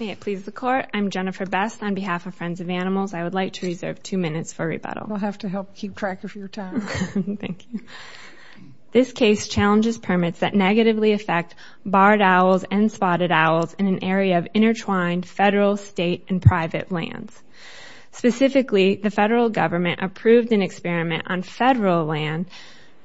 May it please the court, I'm Jennifer Best on behalf of Friends of Animals. I would like to reserve two minutes for rebuttal. We'll have to help keep track of your time. Thank you. This case challenges permits that negatively affect barred owls and spotted owls in an area of intertwined federal, state, and private lands. Specifically, the federal government approved an experiment on federal land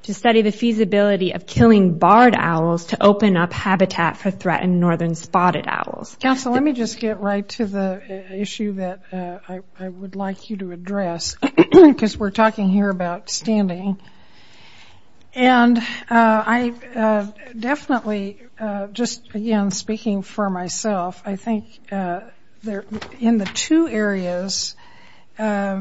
to study the feasibility of killing barred owls to open up habitat for threatened northern spotted owls. Counsel, let me just get right to the issue that I would like you to address because we're talking here about standing and I definitely just again speaking for myself I think there in the two areas I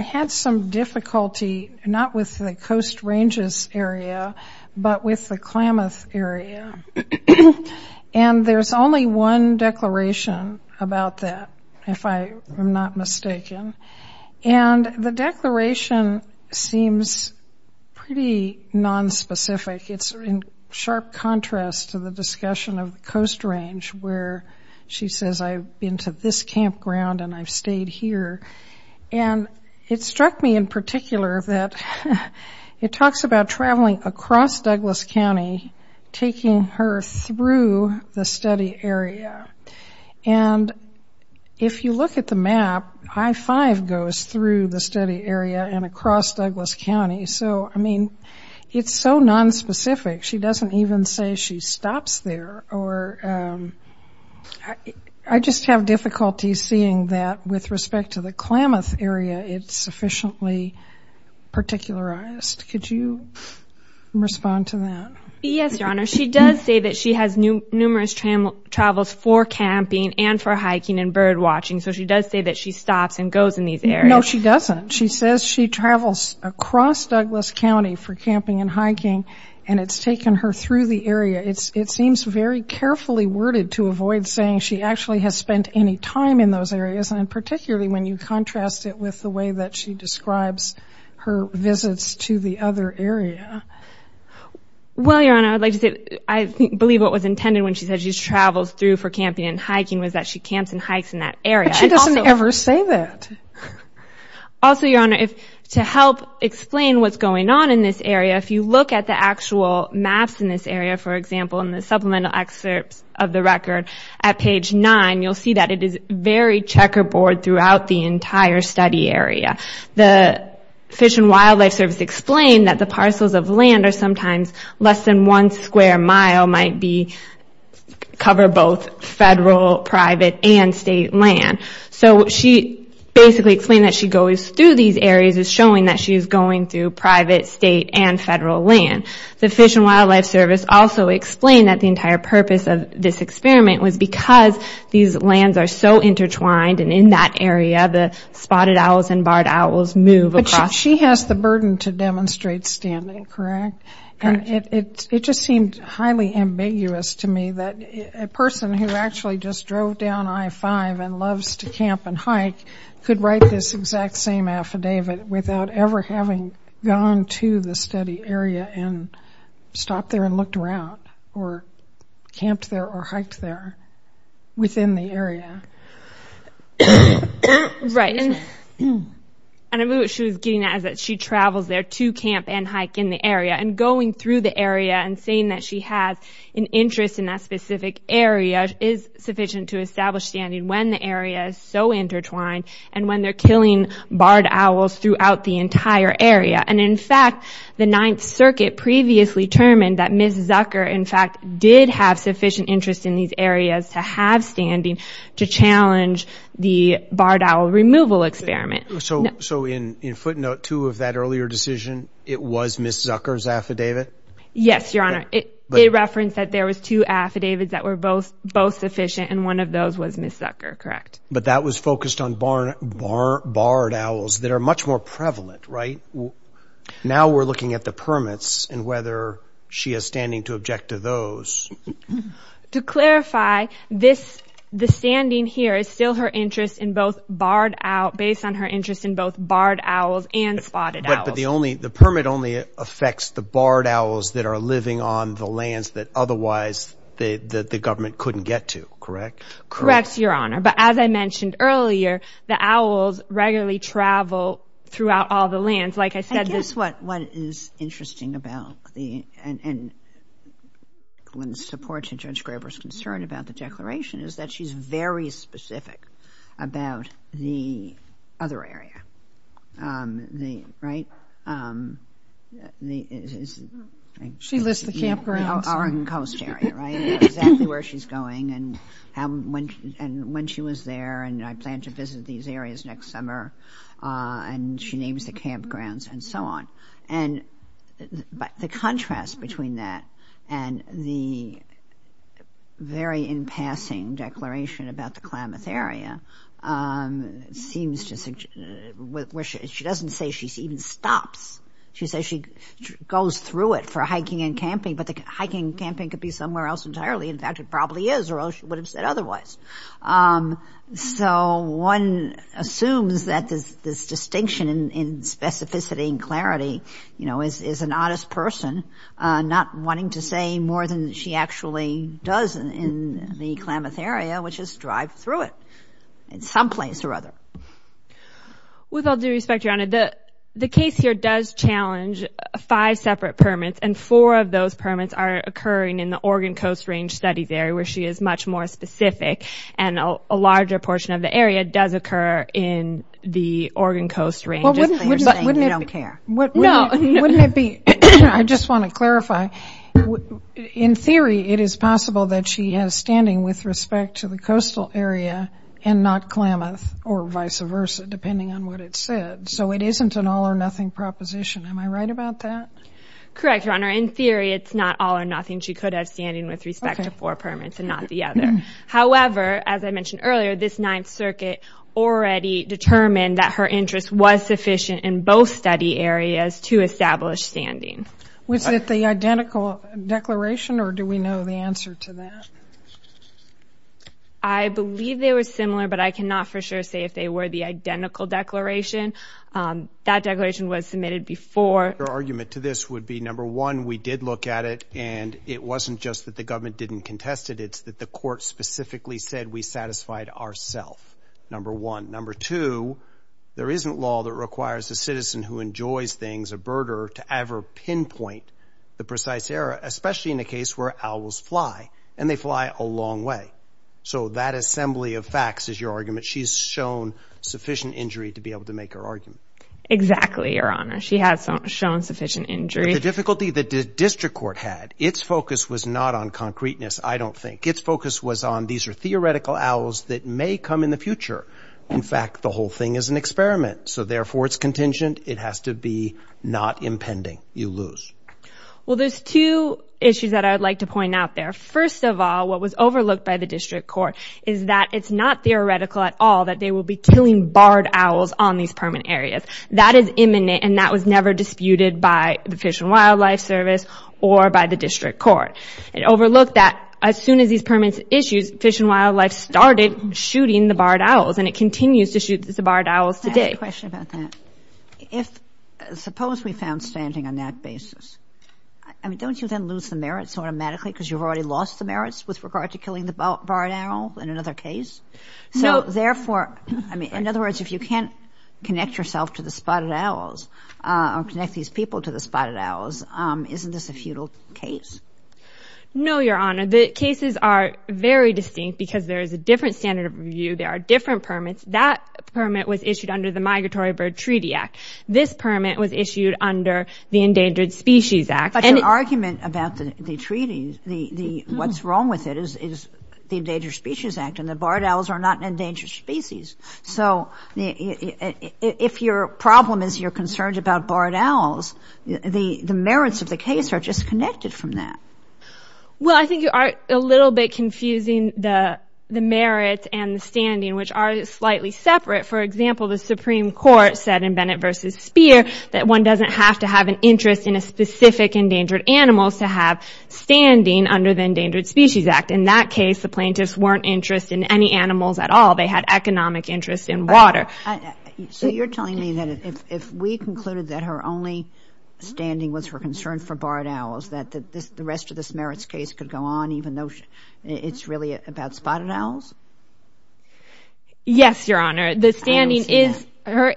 had some difficulty not with the Coast Ranges area but with the Coast Range and there's only one declaration about that if I am not mistaken and the declaration seems pretty non-specific it's in sharp contrast to the discussion of Coast Range where she says I've been to this campground and I've stayed here and it struck me in particular that it talks about traveling across Douglas County taking her through the study area and if you look at the map I-5 goes through the study area and across Douglas County so I mean it's so non-specific she doesn't even say she stops there or I just have difficulty seeing that with respect to the Klamath area it's sufficiently particularized. Could you respond to that? Yes, Your Honor. She does say that she has numerous travels for camping and for hiking and bird-watching so she does say that she stops and goes in these areas. No, she doesn't. She says she travels across Douglas County for camping and hiking and it's taken her through the area. It seems very carefully worded to avoid saying she actually has spent any time in those areas and particularly when you describes her visits to the other area. Well, Your Honor, I believe what was intended when she said she travels through for camping and hiking was that she camps and hikes in that area. But she doesn't ever say that. Also, Your Honor, to help explain what's going on in this area if you look at the actual maps in this area for example in the supplemental excerpts of the record at page 9 you'll see that it is very checkerboard throughout the entire study area. The Fish and Wildlife Service explained that the parcels of land are sometimes less than one square mile might be cover both federal, private, and state land. So she basically explained that she goes through these areas is showing that she is going through private, state, and federal land. The Fish and Wildlife Service also explained that the entire purpose of this experiment was because these lands are so intertwined and in that area the spotted owls and barred owls move across. But she has the burden to demonstrate standing, correct? And it just seemed highly ambiguous to me that a person who actually just drove down I-5 and loves to camp and hike could write this exact same affidavit without ever having gone to the study area and stopped there and camped there or hiked there within the area. Right, and I believe what she was getting at is that she travels there to camp and hike in the area and going through the area and saying that she has an interest in that specific area is sufficient to establish standing when the area is so intertwined and when they're killing barred owls throughout the entire area. And in fact the Ninth Circuit previously determined that Ms. Zucker in fact did have sufficient interest in these areas to have standing to challenge the barred owl removal experiment. So in footnote 2 of that earlier decision it was Ms. Zucker's affidavit? Yes, Your Honor. It referenced that there was two affidavits that were both sufficient and one of those was Ms. Zucker, correct? But that was focused on barred owls that are much more prevalent, right? Now we're looking at the she has standing to object to those. To clarify, the standing here is still her interest in both barred owls, based on her interest in both barred owls and spotted owls. But the permit only affects the barred owls that are living on the lands that otherwise the government couldn't get to, correct? Correct, Your Honor, but as I mentioned earlier the owls regularly travel throughout all the and when the support to Judge Graber's concern about the declaration is that she's very specific about the other area, right? She lists the campgrounds. The Oregon Coast area, right? Exactly where she's going and when she was there and I plan to visit these areas next summer and she names the campgrounds and so on. But the contrast between that and the very in passing declaration about the Klamath area seems to suggest, she doesn't say she even stops. She says she goes through it for hiking and camping but the hiking and camping could be somewhere else entirely. In fact, it probably is or she would have said otherwise. So one assumes that this distinction in specificity and clarity, you know, is an honest person not wanting to say more than she actually does in the Klamath area, which is drive through it in some place or other. With all due respect, Your Honor, the case here does challenge five separate permits and four of those permits are occurring in the Oregon Coast Range Studies area where she is much more specific and a larger portion of the area does occur in the Oregon Coast Range. I just want to clarify. In theory, it is possible that she has standing with respect to the coastal area and not Klamath or vice versa depending on what it said. So it isn't an all-or-nothing proposition. Am I right about that? Correct, Your Honor. In theory, it's not all-or-nothing. She could have standing with respect to four permits and not the other. However, as I mentioned earlier, this Ninth Circuit already determined that her interest was sufficient in both study areas to establish standing. Was it the identical declaration or do we know the answer to that? I believe they were similar but I cannot for sure say if they were the identical declaration. That declaration was submitted before. Your argument to this would be, number one, we did look at it and it wasn't just that the government didn't contest it. It's that the court specifically said we satisfied ourselves, number one. Number two, there isn't law that requires a citizen who enjoys things, a birder, to ever pinpoint the precise error, especially in a case where owls fly and they fly a long way. So that assembly of facts is your argument. She's shown sufficient injury to be able to make her argument. Exactly, Your Honor. She has shown sufficient injury. The difficulty that the district court had, its focus was not on concreteness, I don't think. Its focus was on these are theoretical owls that may come in the future. In fact, the whole thing is an experiment. So therefore, it's contingent. It has to be not impending. You lose. Well, there's two issues that I would like to point out there. First of all, what was overlooked by the district court is that it's not theoretical at all that they will be killing barred owls on these permanent areas. That is imminent and that was never disputed by the Fish and Wildlife Service or by the district court. It overlooked that as soon as these permanent issues, Fish and Wildlife started shooting the barred owls and it continues to shoot the barred owls today. I have a question about that. If, suppose we found standing on that basis, I mean, don't you then lose the merits automatically because you've already lost the merits with regard to killing the barred owl in another case? No. So therefore, I mean, in other words, if you can't connect yourself to the spotted owls or connect these people to the spotted owls, isn't this a futile case? No, Your Honor. The cases are very distinct because there is a different standard of review. There are different permits. That permit was issued under the Migratory Bird Treaty Act. This permit was issued under the Endangered Species Act. But your argument about the treaty, what's wrong with it, is the Endangered Species Act and the barred owls are not an endangered species. So if your problem is you're concerned about barred owls, the merits of the case are disconnected from that. Well, I think you are a little bit confusing the merits and the standing, which are slightly separate. For example, the Supreme Court said in Bennett v. Speer that one doesn't have to have an interest in a specific endangered animal to have standing under the Endangered Species Act. In that case, the plaintiffs weren't interested in any animals at all. They had economic interest in water. So you're telling me that if we concluded that her only standing was her concern for barred owls, that the rest of this merits case could go on even though it's really about spotted owls? Yes, Your Honor.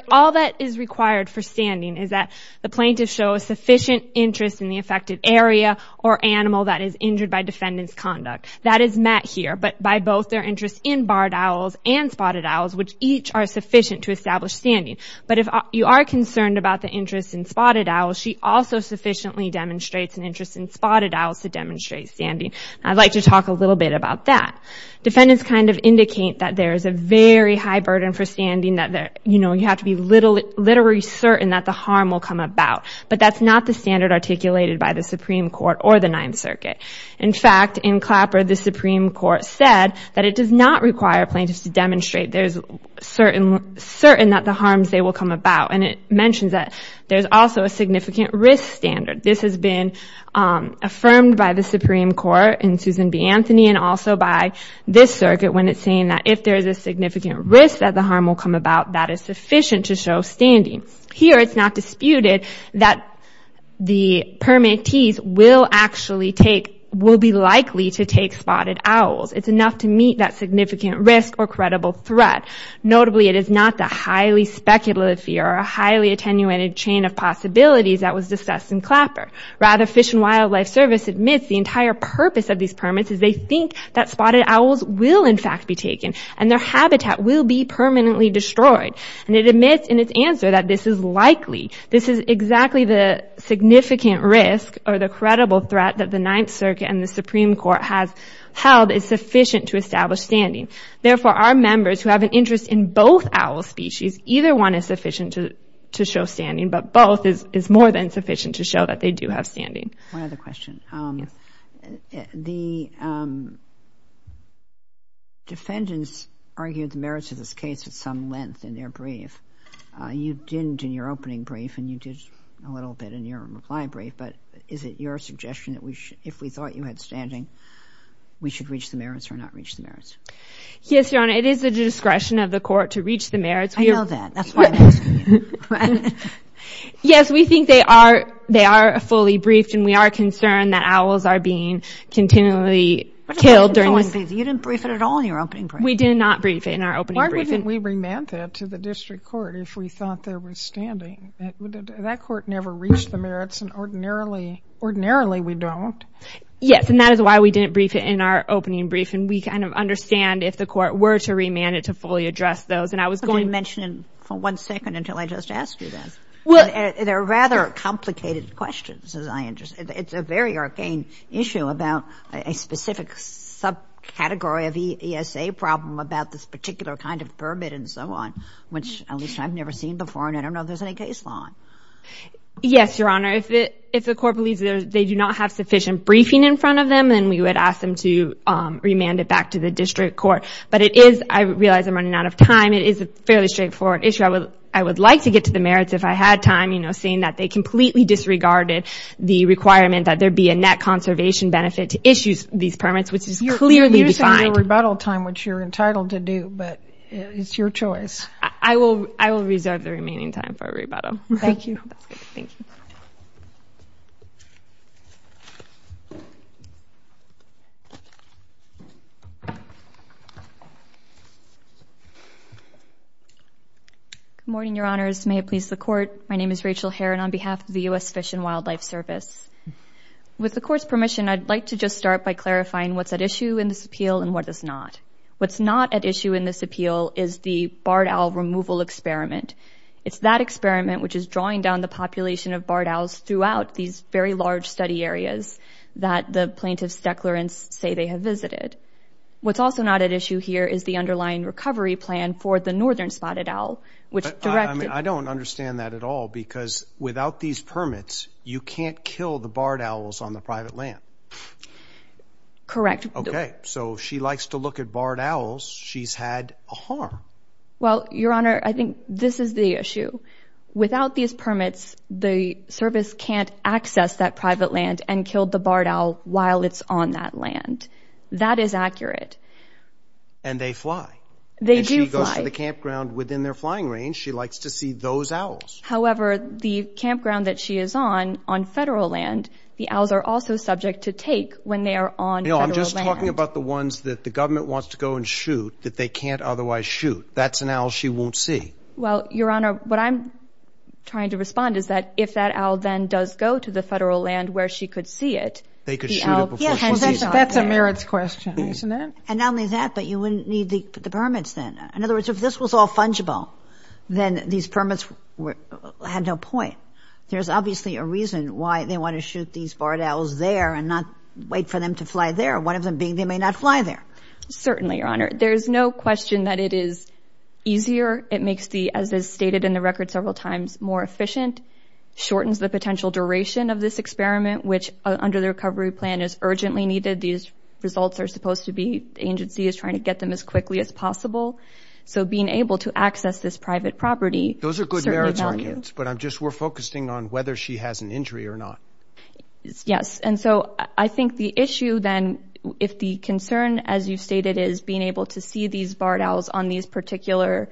All that is required for standing is that the plaintiffs show a sufficient interest in the affected area or animal that is injured by defendant's conduct. That is met here, but by both their interest in barred owls and spotted owls, which each are sufficient to establish standing. But if you are concerned about the interest in spotted owls, she also sufficiently demonstrates an interest in spotted owls to demonstrate standing. I'd like to talk a little bit about that. Defendants kind of indicate that there is a very high burden for standing, that you have to be literally certain that the harm will come about. But that's not the standard articulated by the Supreme Court or the Ninth Circuit. In fact, in Clapper, the Supreme Court said that it does not have to be certain that the harms they will come about, and it mentions that there's also a significant risk standard. This has been affirmed by the Supreme Court in Susan B. Anthony and also by this circuit when it's saying that if there is a significant risk that the harm will come about, that is sufficient to show standing. Here, it's not disputed that the permittees will actually take, will be likely to take spotted owls. It's enough to meet that significant risk or it is not the highly speculative or a highly attenuated chain of possibilities that was discussed in Clapper. Rather, Fish and Wildlife Service admits the entire purpose of these permits is they think that spotted owls will in fact be taken and their habitat will be permanently destroyed. And it admits in its answer that this is likely, this is exactly the significant risk or the credible threat that the Ninth Circuit and the Supreme Court has held is sufficient to establish standing. Therefore, our members who have an owl species, either one is sufficient to show standing, but both is more than sufficient to show that they do have standing. One other question. The defendants argued the merits of this case at some length in their brief. You didn't in your opening brief and you did a little bit in your reply brief, but is it your suggestion that we should, if we thought you had standing, we should reach the merits or not reach the merits? Yes, Your Honor. It is the discretion of the court to reach the merits. I know that. That's why I'm asking you. Yes, we think they are, they are fully briefed and we are concerned that owls are being continually killed during this. You didn't brief it at all in your opening brief. We did not brief it in our opening brief. Why wouldn't we remand that to the district court if we thought there was standing? That court never reached the merits and ordinarily, ordinarily we don't. Yes, and that is why we didn't brief it in our opening brief and we kind of didn't understand if the court were to remand it to fully address those. Could you mention for one second until I just ask you this? They're rather complicated questions as I understand. It's a very arcane issue about a specific subcategory of ESA problem about this particular kind of permit and so on, which at least I've never seen before and I don't know if there's any case law. Yes, Your Honor. If the court believes they do not have sufficient briefing in front of them, then we would ask them to remand it back to the district court. But it is, I realize I'm running out of time, it is a fairly straightforward issue. I would like to get to the merits if I had time, you know, saying that they completely disregarded the requirement that there be a net conservation benefit to issue these permits, which is clearly defined. You're saying your rebuttal time, which you're entitled to do, but it's your choice. I will reserve the remaining time for rebuttal. Thank you. Thank you. Good morning, Your Honors. May it please the court. My name is Rachel Heron on behalf of the U.S. Fish and Wildlife Service. With the court's permission, I'd like to just start by clarifying what's at issue in this appeal and what is not. What's not at issue in this appeal is the barred owl removal experiment. It's that experiment, which is drawing down the population of barred owls What's also not at issue here is the underlying recovery plan for the northern spotted owl. I don't understand that at all because without these permits, you can't kill the barred owls on the private land. Correct. Okay, so she likes to look at barred owls. She's had a harm. Well, Your Honor, I think this is the issue. Without these permits, the service can't access that private land and kill the barred owl while it's on that land. That is accurate. And they fly. They do fly. And she goes to the campground within their flying range. She likes to see those owls. However, the campground that she is on, on federal land, the owls are also subject to take when they are on federal land. No, I'm just talking about the ones that the government wants to go and shoot that they can't otherwise shoot. That's an owl she won't see. Well, Your Honor, what I'm trying to respond is that if that owl then does go to the federal land where she could see it, the owl can't see it. That's a merits question, isn't it? And not only that, but you wouldn't need the permits then. In other words, if this was all fungible, then these permits had no point. There's obviously a reason why they want to shoot these barred owls there and not wait for them to fly there, one of them being they may not fly there. Certainly, Your Honor. There's no question that it is easier. It makes the, as is stated in the record several times, more efficient. Shortens the potential duration of this experiment, which under the recovery plan is urgently needed. These results are supposed to be, the agency is trying to get them as quickly as possible. So being able to access this private property certainly values. Those are good merits arguments, but we're focusing on whether she has an injury or not. Yes, and so I think the issue then, if the concern, as you stated, is being able to see these barred owls on these particular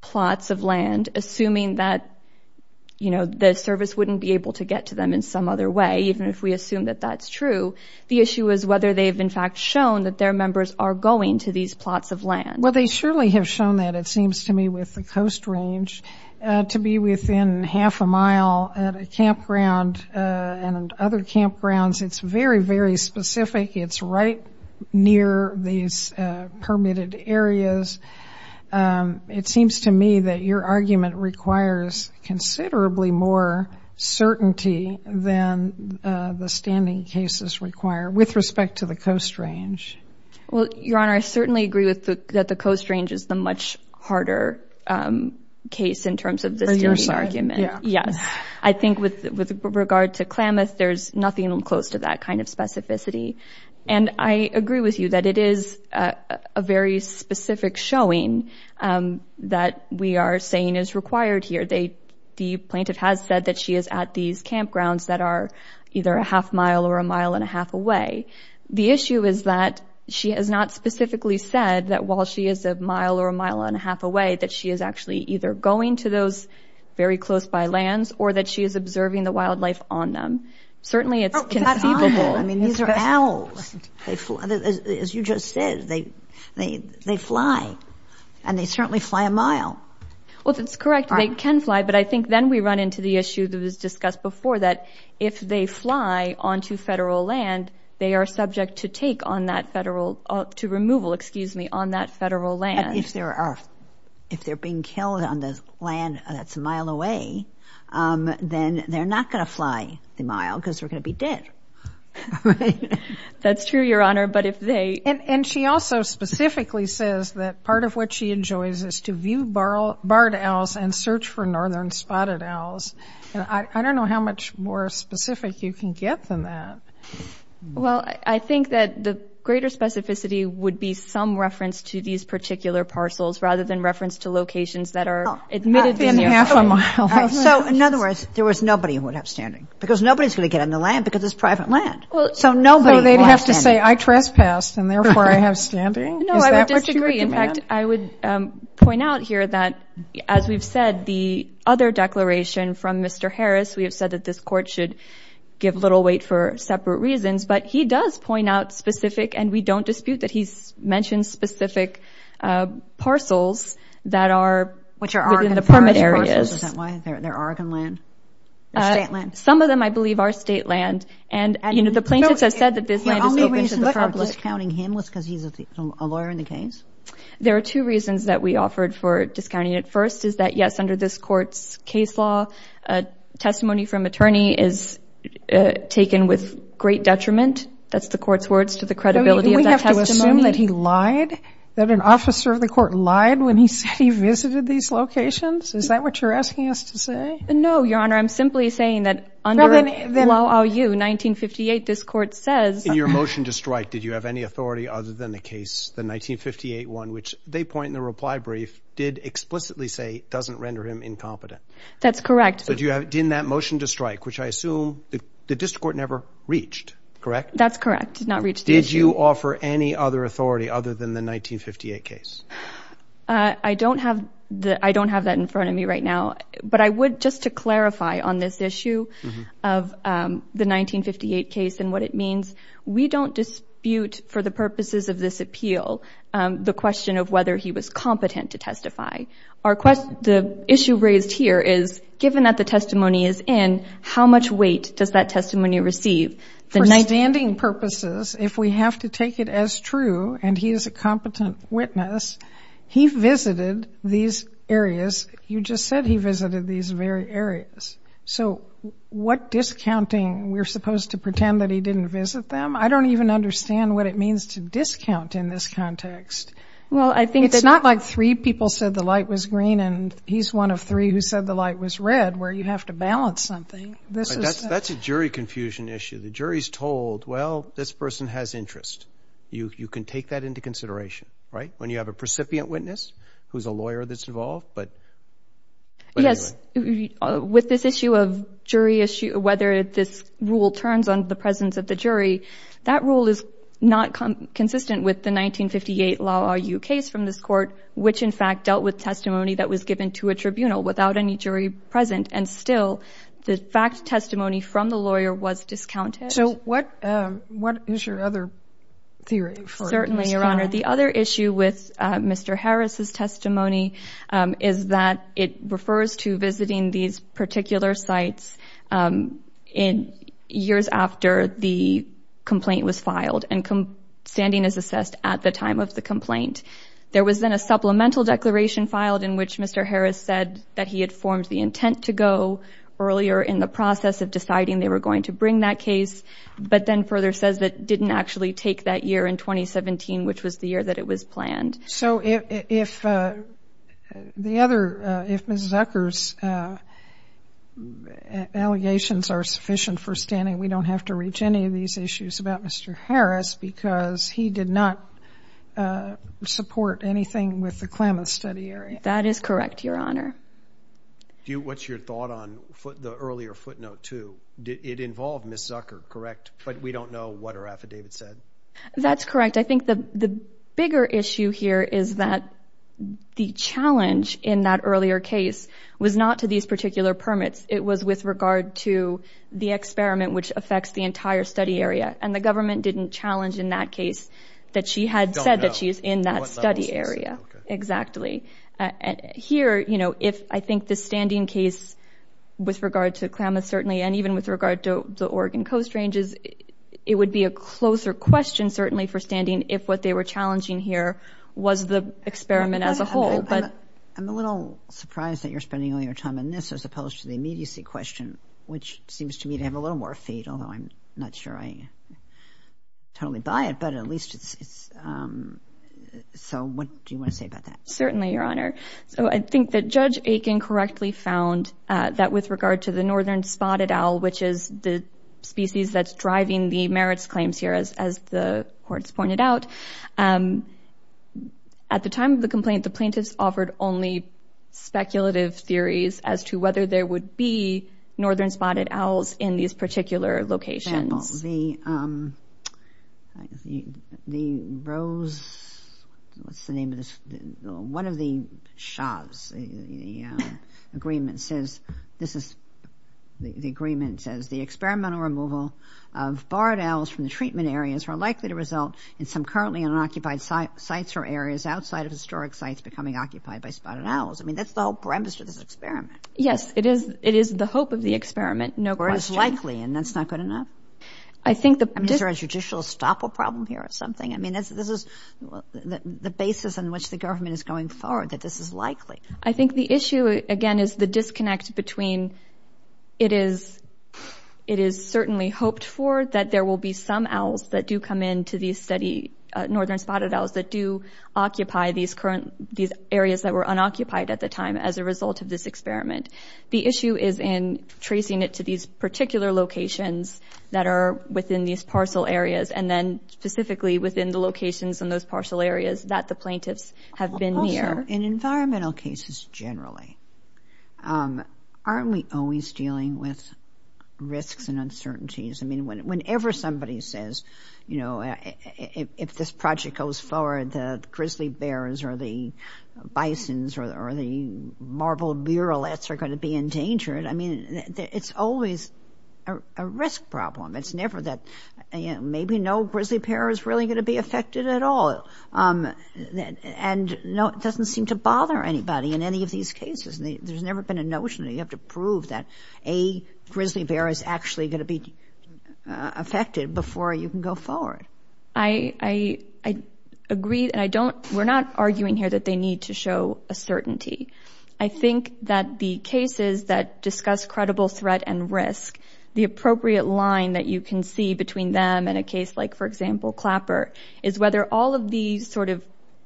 plots of land, assuming that the service wouldn't be able to get to them in some other way, even if we assume that that's true, the issue is whether they've in fact shown that their members are going to these plots of land. Well, they surely have shown that, it seems to me, with the Coast Range, to be within half a mile at a campground and other campgrounds. It's very, very specific. It's right near these permitted areas. It seems to me that your argument requires considerably more certainty than the standing cases require with respect to the Coast Range. Well, Your Honor, I certainly agree that the Coast Range is the much harder case in terms of the standing argument. For your side, yeah. Yes. I think with regard to Klamath, there's nothing close to that kind of specificity. And I agree with you that it is a very specific showing that we are saying is required here. The plaintiff has said that she is at these campgrounds that are either a half mile or a mile and a half away. The issue is that she has not specifically said that while she is a mile or a mile and a half away, that she is actually either going to those very close by lands or that she is observing the wildlife on them. Certainly, it's conceivable. I mean, these are owls. As you just said, they fly. And they certainly fly a mile. Well, that's correct. They can fly. But I think then we run into the issue that was discussed before that if they fly onto federal land, they are subject to take on that federal— to removal, excuse me, on that federal land. If they're being killed on the land that's a mile away, then they're not going to fly the mile because they're going to be dead. That's true, Your Honor, but if they— And she also specifically says that part of what she enjoys is to view barred owls and search for northern spotted owls. I don't know how much more specific you can get than that. Well, I think that the greater specificity would be some reference to these particular parcels rather than reference to locations that are admittedly nearby. So, in other words, there was nobody who would have standing because nobody's going to get on the land because it's private land. So nobody would have standing. So they'd have to say, I trespassed, and therefore I have standing? No, I would disagree. In fact, I would point out here that, as we've said, the other declaration from Mr. Harris, we have said that this Court should give little weight for separate reasons, but he does point out specific, and we don't dispute that he's mentioned specific parcels that are within the permit areas. Which are Oregon private parcels, is that why? They're Oregon land? They're state land? Some of them, I believe, are state land. And, you know, the plaintiffs have said that this land is public. The only reason for discounting him was because he's a lawyer in the case? There are two reasons that we offered for discounting it. First is that, yes, under this Court's case law, testimony from attorney is taken with great detriment. That's the Court's words to the credibility of that testimony. Did you assume that he lied, that an officer of the Court lied when he said he visited these locations? Is that what you're asking us to say? No, Your Honor. I'm simply saying that under Law OU 1958, this Court says — In your motion to strike, did you have any authority other than the case, the 1958 one, which they point in the reply brief did explicitly say doesn't render him incompetent? That's correct. But in that motion to strike, which I assume the district court never reached, correct? That's correct. Did not reach the issue. Did you offer any other authority other than the 1958 case? I don't have that in front of me right now. But I would, just to clarify on this issue of the 1958 case and what it means, we don't dispute for the purposes of this appeal the question of whether he was competent to testify. The issue raised here is, given that the testimony is in, how much weight does that testimony receive? For standing purposes, if we have to take it as true and he is a competent witness, he visited these areas. You just said he visited these very areas. So what discounting? We're supposed to pretend that he didn't visit them? I don't even understand what it means to discount in this context. It's not like three people said the light was green and he's one of three who said the light was red where you have to balance something. That's a jury confusion issue. The jury's told, well, this person has interest. You can take that into consideration, right, when you have a precipient witness who's a lawyer that's involved, but anyway. Yes. With this issue of jury issue, whether this rule turns on the presence of the jury, that rule is not consistent with the 1958 Law RU case from this court, which in fact dealt with testimony that was given to a tribunal without any jury present, and still the fact testimony from the lawyer was discounted. So what is your other theory? Certainly, Your Honor. The other issue with Mr. Harris' testimony is that it refers to visiting these particular sites years after the complaint was filed and standing as assessed at the time of the complaint. There was then a supplemental declaration filed in which Mr. Harris said that he had formed the intent to go earlier in the process of deciding they were going to bring that case, but then further says that didn't actually take that year in 2017, which was the year that it was planned. So if the other, if Ms. Zucker's allegations are sufficient for standing, we don't have to reach any of these issues about Mr. Harris because he did not support anything with the Klamath study area. That is correct, Your Honor. What's your thought on the earlier footnote, too? It involved Ms. Zucker, correct, but we don't know what her affidavit said. That's correct. I think the bigger issue here is that the challenge in that earlier case was not to these particular permits. It was with regard to the experiment which affects the entire study area, and the government didn't challenge in that case that she had said that she's in that study area. Exactly. Here, you know, if I think the standing case with regard to Klamath certainly, and even with regard to the Oregon Coast Ranges, it would be a closer question certainly for standing if what they were challenging here was the experiment as a whole. I'm a little surprised that you're spending all your time on this as opposed to the immediacy question, which seems to me to have a little more fate, although I'm not sure I totally buy it, but at least it's—so what do you want to say about that? Certainly, Your Honor. So I think that Judge Aiken correctly found that with regard to the northern spotted owl, which is the species that's driving the merits claims here, as the courts pointed out, at the time of the complaint, the plaintiffs offered only speculative theories as to whether there would be northern spotted owls in these particular locations. For example, the Rose—what's the name of this? One of the Schaub's agreements says, this is—the agreement says, the experimental removal of barred owls from the treatment areas are likely to result in some currently unoccupied sites or areas outside of historic sites becoming occupied by spotted owls. I mean, that's the whole premise of this experiment. Yes, it is the hope of the experiment, no question. Or it's likely, and that's not good enough? I think the— I mean, is there a judicial stopper problem here or something? I mean, this is the basis on which the government is going forward, that this is likely. I think the issue, again, is the disconnect between it is certainly hoped for, that there will be some owls that do come in to these study—northern spotted owls that do occupy these current—these areas that were unoccupied at the time as a result of this experiment. The issue is in tracing it to these particular locations that are within these parcel areas, and then specifically within the locations in those parcel areas that the plaintiffs have been near. In environmental cases generally, aren't we always dealing with risks and uncertainties? I mean, whenever somebody says, you know, if this project goes forward, the grizzly bears or the bisons or the marble murrelets are going to be endangered, I mean, it's always a risk problem. It's never that maybe no grizzly bear is really going to be affected at all. And no, it doesn't seem to bother anybody in any of these cases. There's never been a notion that you have to prove that a grizzly bear is actually going to be affected before you can go forward. I agree, and I don't—we're not arguing here that they need to show a certainty. I think that the cases that discuss credible threat and risk, the appropriate line that you can see between them and a case like, for example, Clapper, is whether all of these sort of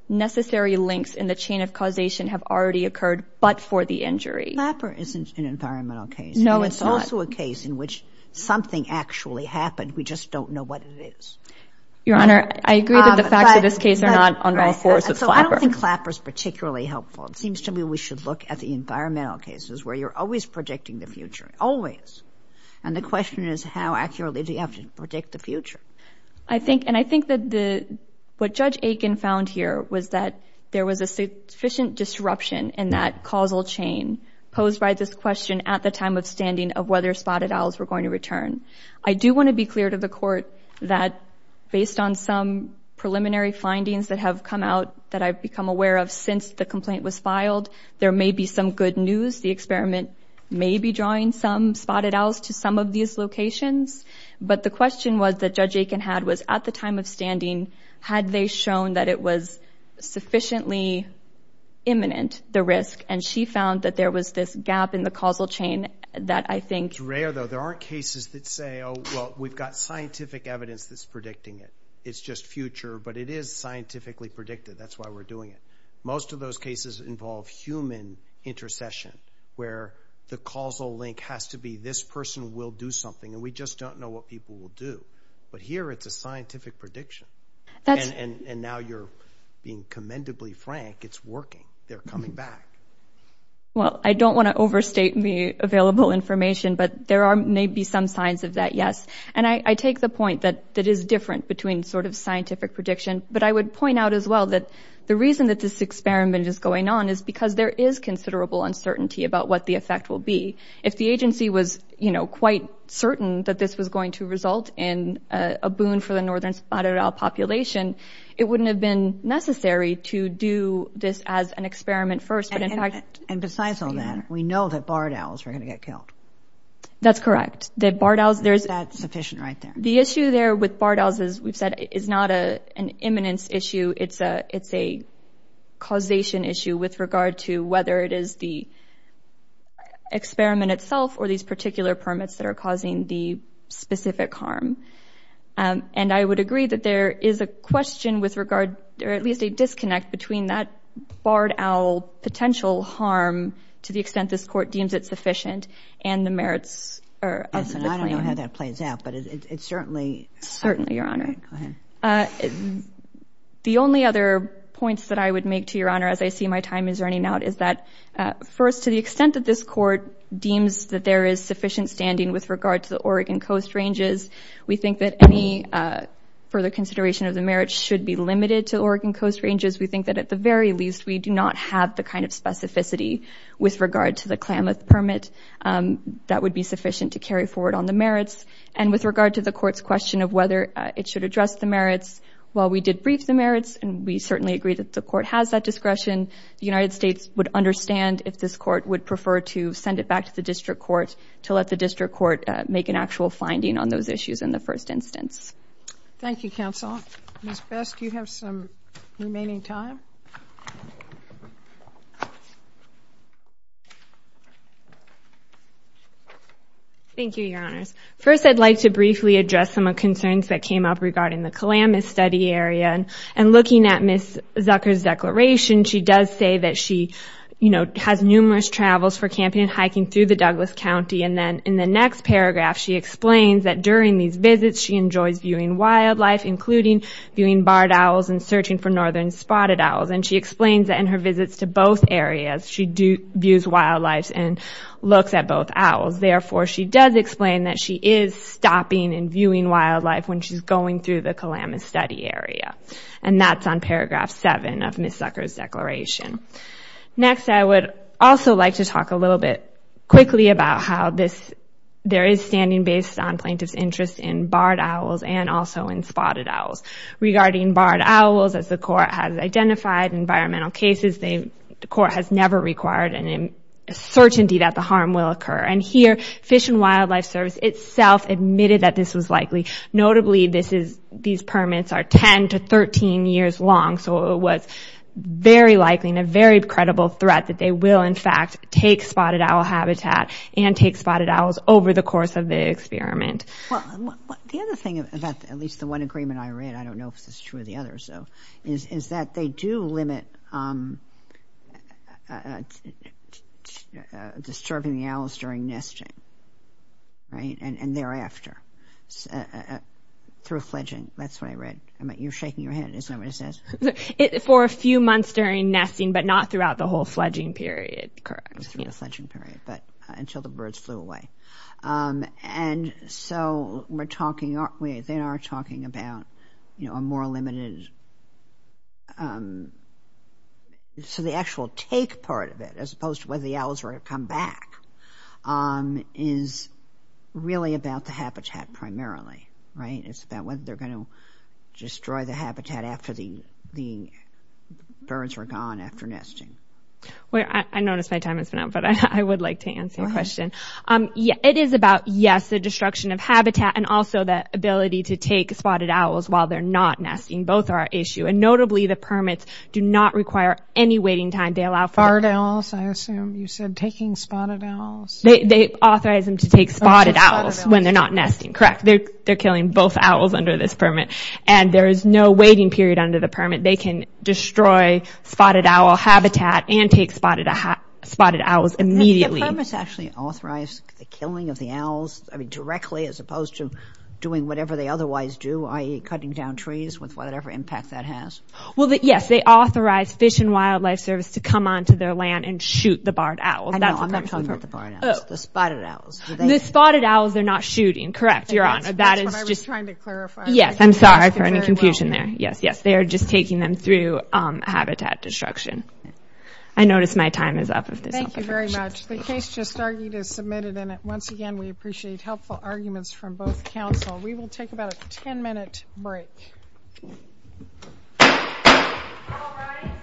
necessary links in the chain of causation have already occurred but for the injury. Clapper isn't an environmental case. No, it's not. It's also a case in which something actually happened. We just don't know what it is. Your Honor, I agree that the facts of this case are not on all fours of Clapper. So I don't think Clapper is particularly helpful. It seems to me we should look at the environmental cases where you're always predicting the future, always. And the question is how accurately do you have to predict the future? I think—and I think that what Judge Aiken found here was that there was a sufficient disruption in that causal chain posed by this question at the time of standing of whether spotted owls were going to return. I do want to be clear to the Court that based on some preliminary findings that have come out that I've become aware of since the complaint was filed, there may be some good news. The experiment may be drawing some spotted owls to some of these locations. But the question was that Judge Aiken had was at the time of standing, had they shown that it was sufficiently imminent, the risk? And she found that there was this gap in the causal chain that I think— It's rare, though. There aren't cases that say, oh, well, we've got scientific evidence that's predicting it. It's just future. But it is scientifically predicted. That's why we're doing it. Most of those cases involve human intercession where the causal link has to be this person will do something. And we just don't know what people will do. But here it's a scientific prediction. And now you're being commendably frank. It's working. They're coming back. Well, I don't want to overstate the available information. But there may be some signs of that, yes. And I take the point that it is different between sort of scientific prediction. But I would point out as well that the reason that this experiment is going on is because there is considerable uncertainty about what the effect will be. If the agency was, you know, quite certain that this was going to result in a boon for the northern spotted owl population, it wouldn't have been necessary to do this as an experiment first. But in fact— And besides all that, we know that barred owls are going to get killed. That's correct. That barred owls— That's sufficient right there. The issue there with barred owls, as we've said, is not an imminence issue. It's a causation issue with regard to whether it is the experiment itself or these particular permits that are causing the specific harm. And I would agree that there is a question with regard— or at least a disconnect between that barred owl potential harm to the extent this Court deems it sufficient and the merits of the plan. I don't know how that plays out, but it certainly— Certainly, Your Honor. Go ahead. The only other points that I would make to Your Honor, as I see my time is running out, is that, first, to the extent that this Court deems that there is sufficient standing with regard to the Oregon Coast Ranges, we think that any further consideration of the merits should be limited to Oregon Coast Ranges. We think that, at the very least, we do not have the kind of specificity with regard to the Klamath permit that would be sufficient to carry forward on the merits. And with regard to the Court's question of whether it should address the merits, while we did brief the merits, and we certainly agree that the Court has that discretion, the United States would understand if this Court would prefer to send it back to the District Court to let the District Court make an actual finding on those issues in the first instance. Thank you, Counsel. Ms. Best, you have some remaining time. Thank you, Your Honors. First, I'd like to briefly address some of the concerns that came up regarding the Klamath study area. And looking at Ms. Zucker's declaration, she does say that she, you know, has numerous travels for camping and hiking through the Douglas County. And then, in the next paragraph, she explains that, during these visits, she enjoys viewing wildlife, including viewing barred owls and searching for northern spotted owls. And she explains that, in her visits to both areas, she views wildlife and looks at both owls. Therefore, she does explain that she is stopping and viewing wildlife when she's going through the Klamath study area. And that's on paragraph 7 of Ms. Zucker's declaration. Next, I would also like to talk a little bit quickly about how this, there is standing based on plaintiff's interest in barred owls and also in spotted owls. Regarding barred owls, as the court has identified in environmental cases, the court has never required an uncertainty that the harm will occur. And here, Fish and Wildlife Service itself admitted that this was likely. Notably, this is, these permits are 10 to 13 years long. So it was very likely and a very credible threat that they will, in fact, take spotted owl habitat and take spotted owls over the course of the experiment. Well, the other thing about, at least the one agreement I read, I don't know if this is true of the others though, is that they do limit disturbing the owls during nesting, right? And thereafter, through fledging. That's what I read. You're shaking your head. Is that what it says? For a few months during nesting, but not throughout the whole fledging period, correct? Not through the fledging period, but until the birds flew away. And so we're talking, they are talking about a more limited, so the actual take part of it, as opposed to whether the owls are going to come back, is really about the habitat primarily, right? It's about whether they're going to destroy the habitat after the birds are gone after nesting. Wait, I noticed my time has been up, but I would like to answer your question. It is about, yes, the destruction of habitat and also the ability to take spotted owls while they're not nesting. Both are an issue. And notably, the permits do not require any waiting time. They allow for... Spotted owls, I assume you said taking spotted owls. They authorize them to take spotted owls when they're not nesting, correct. They're killing both owls under this permit. And there is no waiting period under the permit. They can destroy spotted owl habitat and take spotted owls immediately. The permits actually authorize the killing of the owls directly, as opposed to doing whatever they otherwise do, i.e., cutting down trees with whatever impact that has? Well, yes, they authorize Fish and Wildlife Service to come onto their land and shoot the barred owls. I know, I'm not talking about the barred owls, the spotted owls. The spotted owls, they're not shooting, correct, Your Honor. That's what I was trying to clarify. Yes, I'm sorry for any confusion there. Yes, yes, they are just taking them through habitat destruction. I notice my time is up. Thank you very much. The case just argued is submitted, and once again, we appreciate helpful arguments from both counsel. We will take about a 10-minute break. All rise.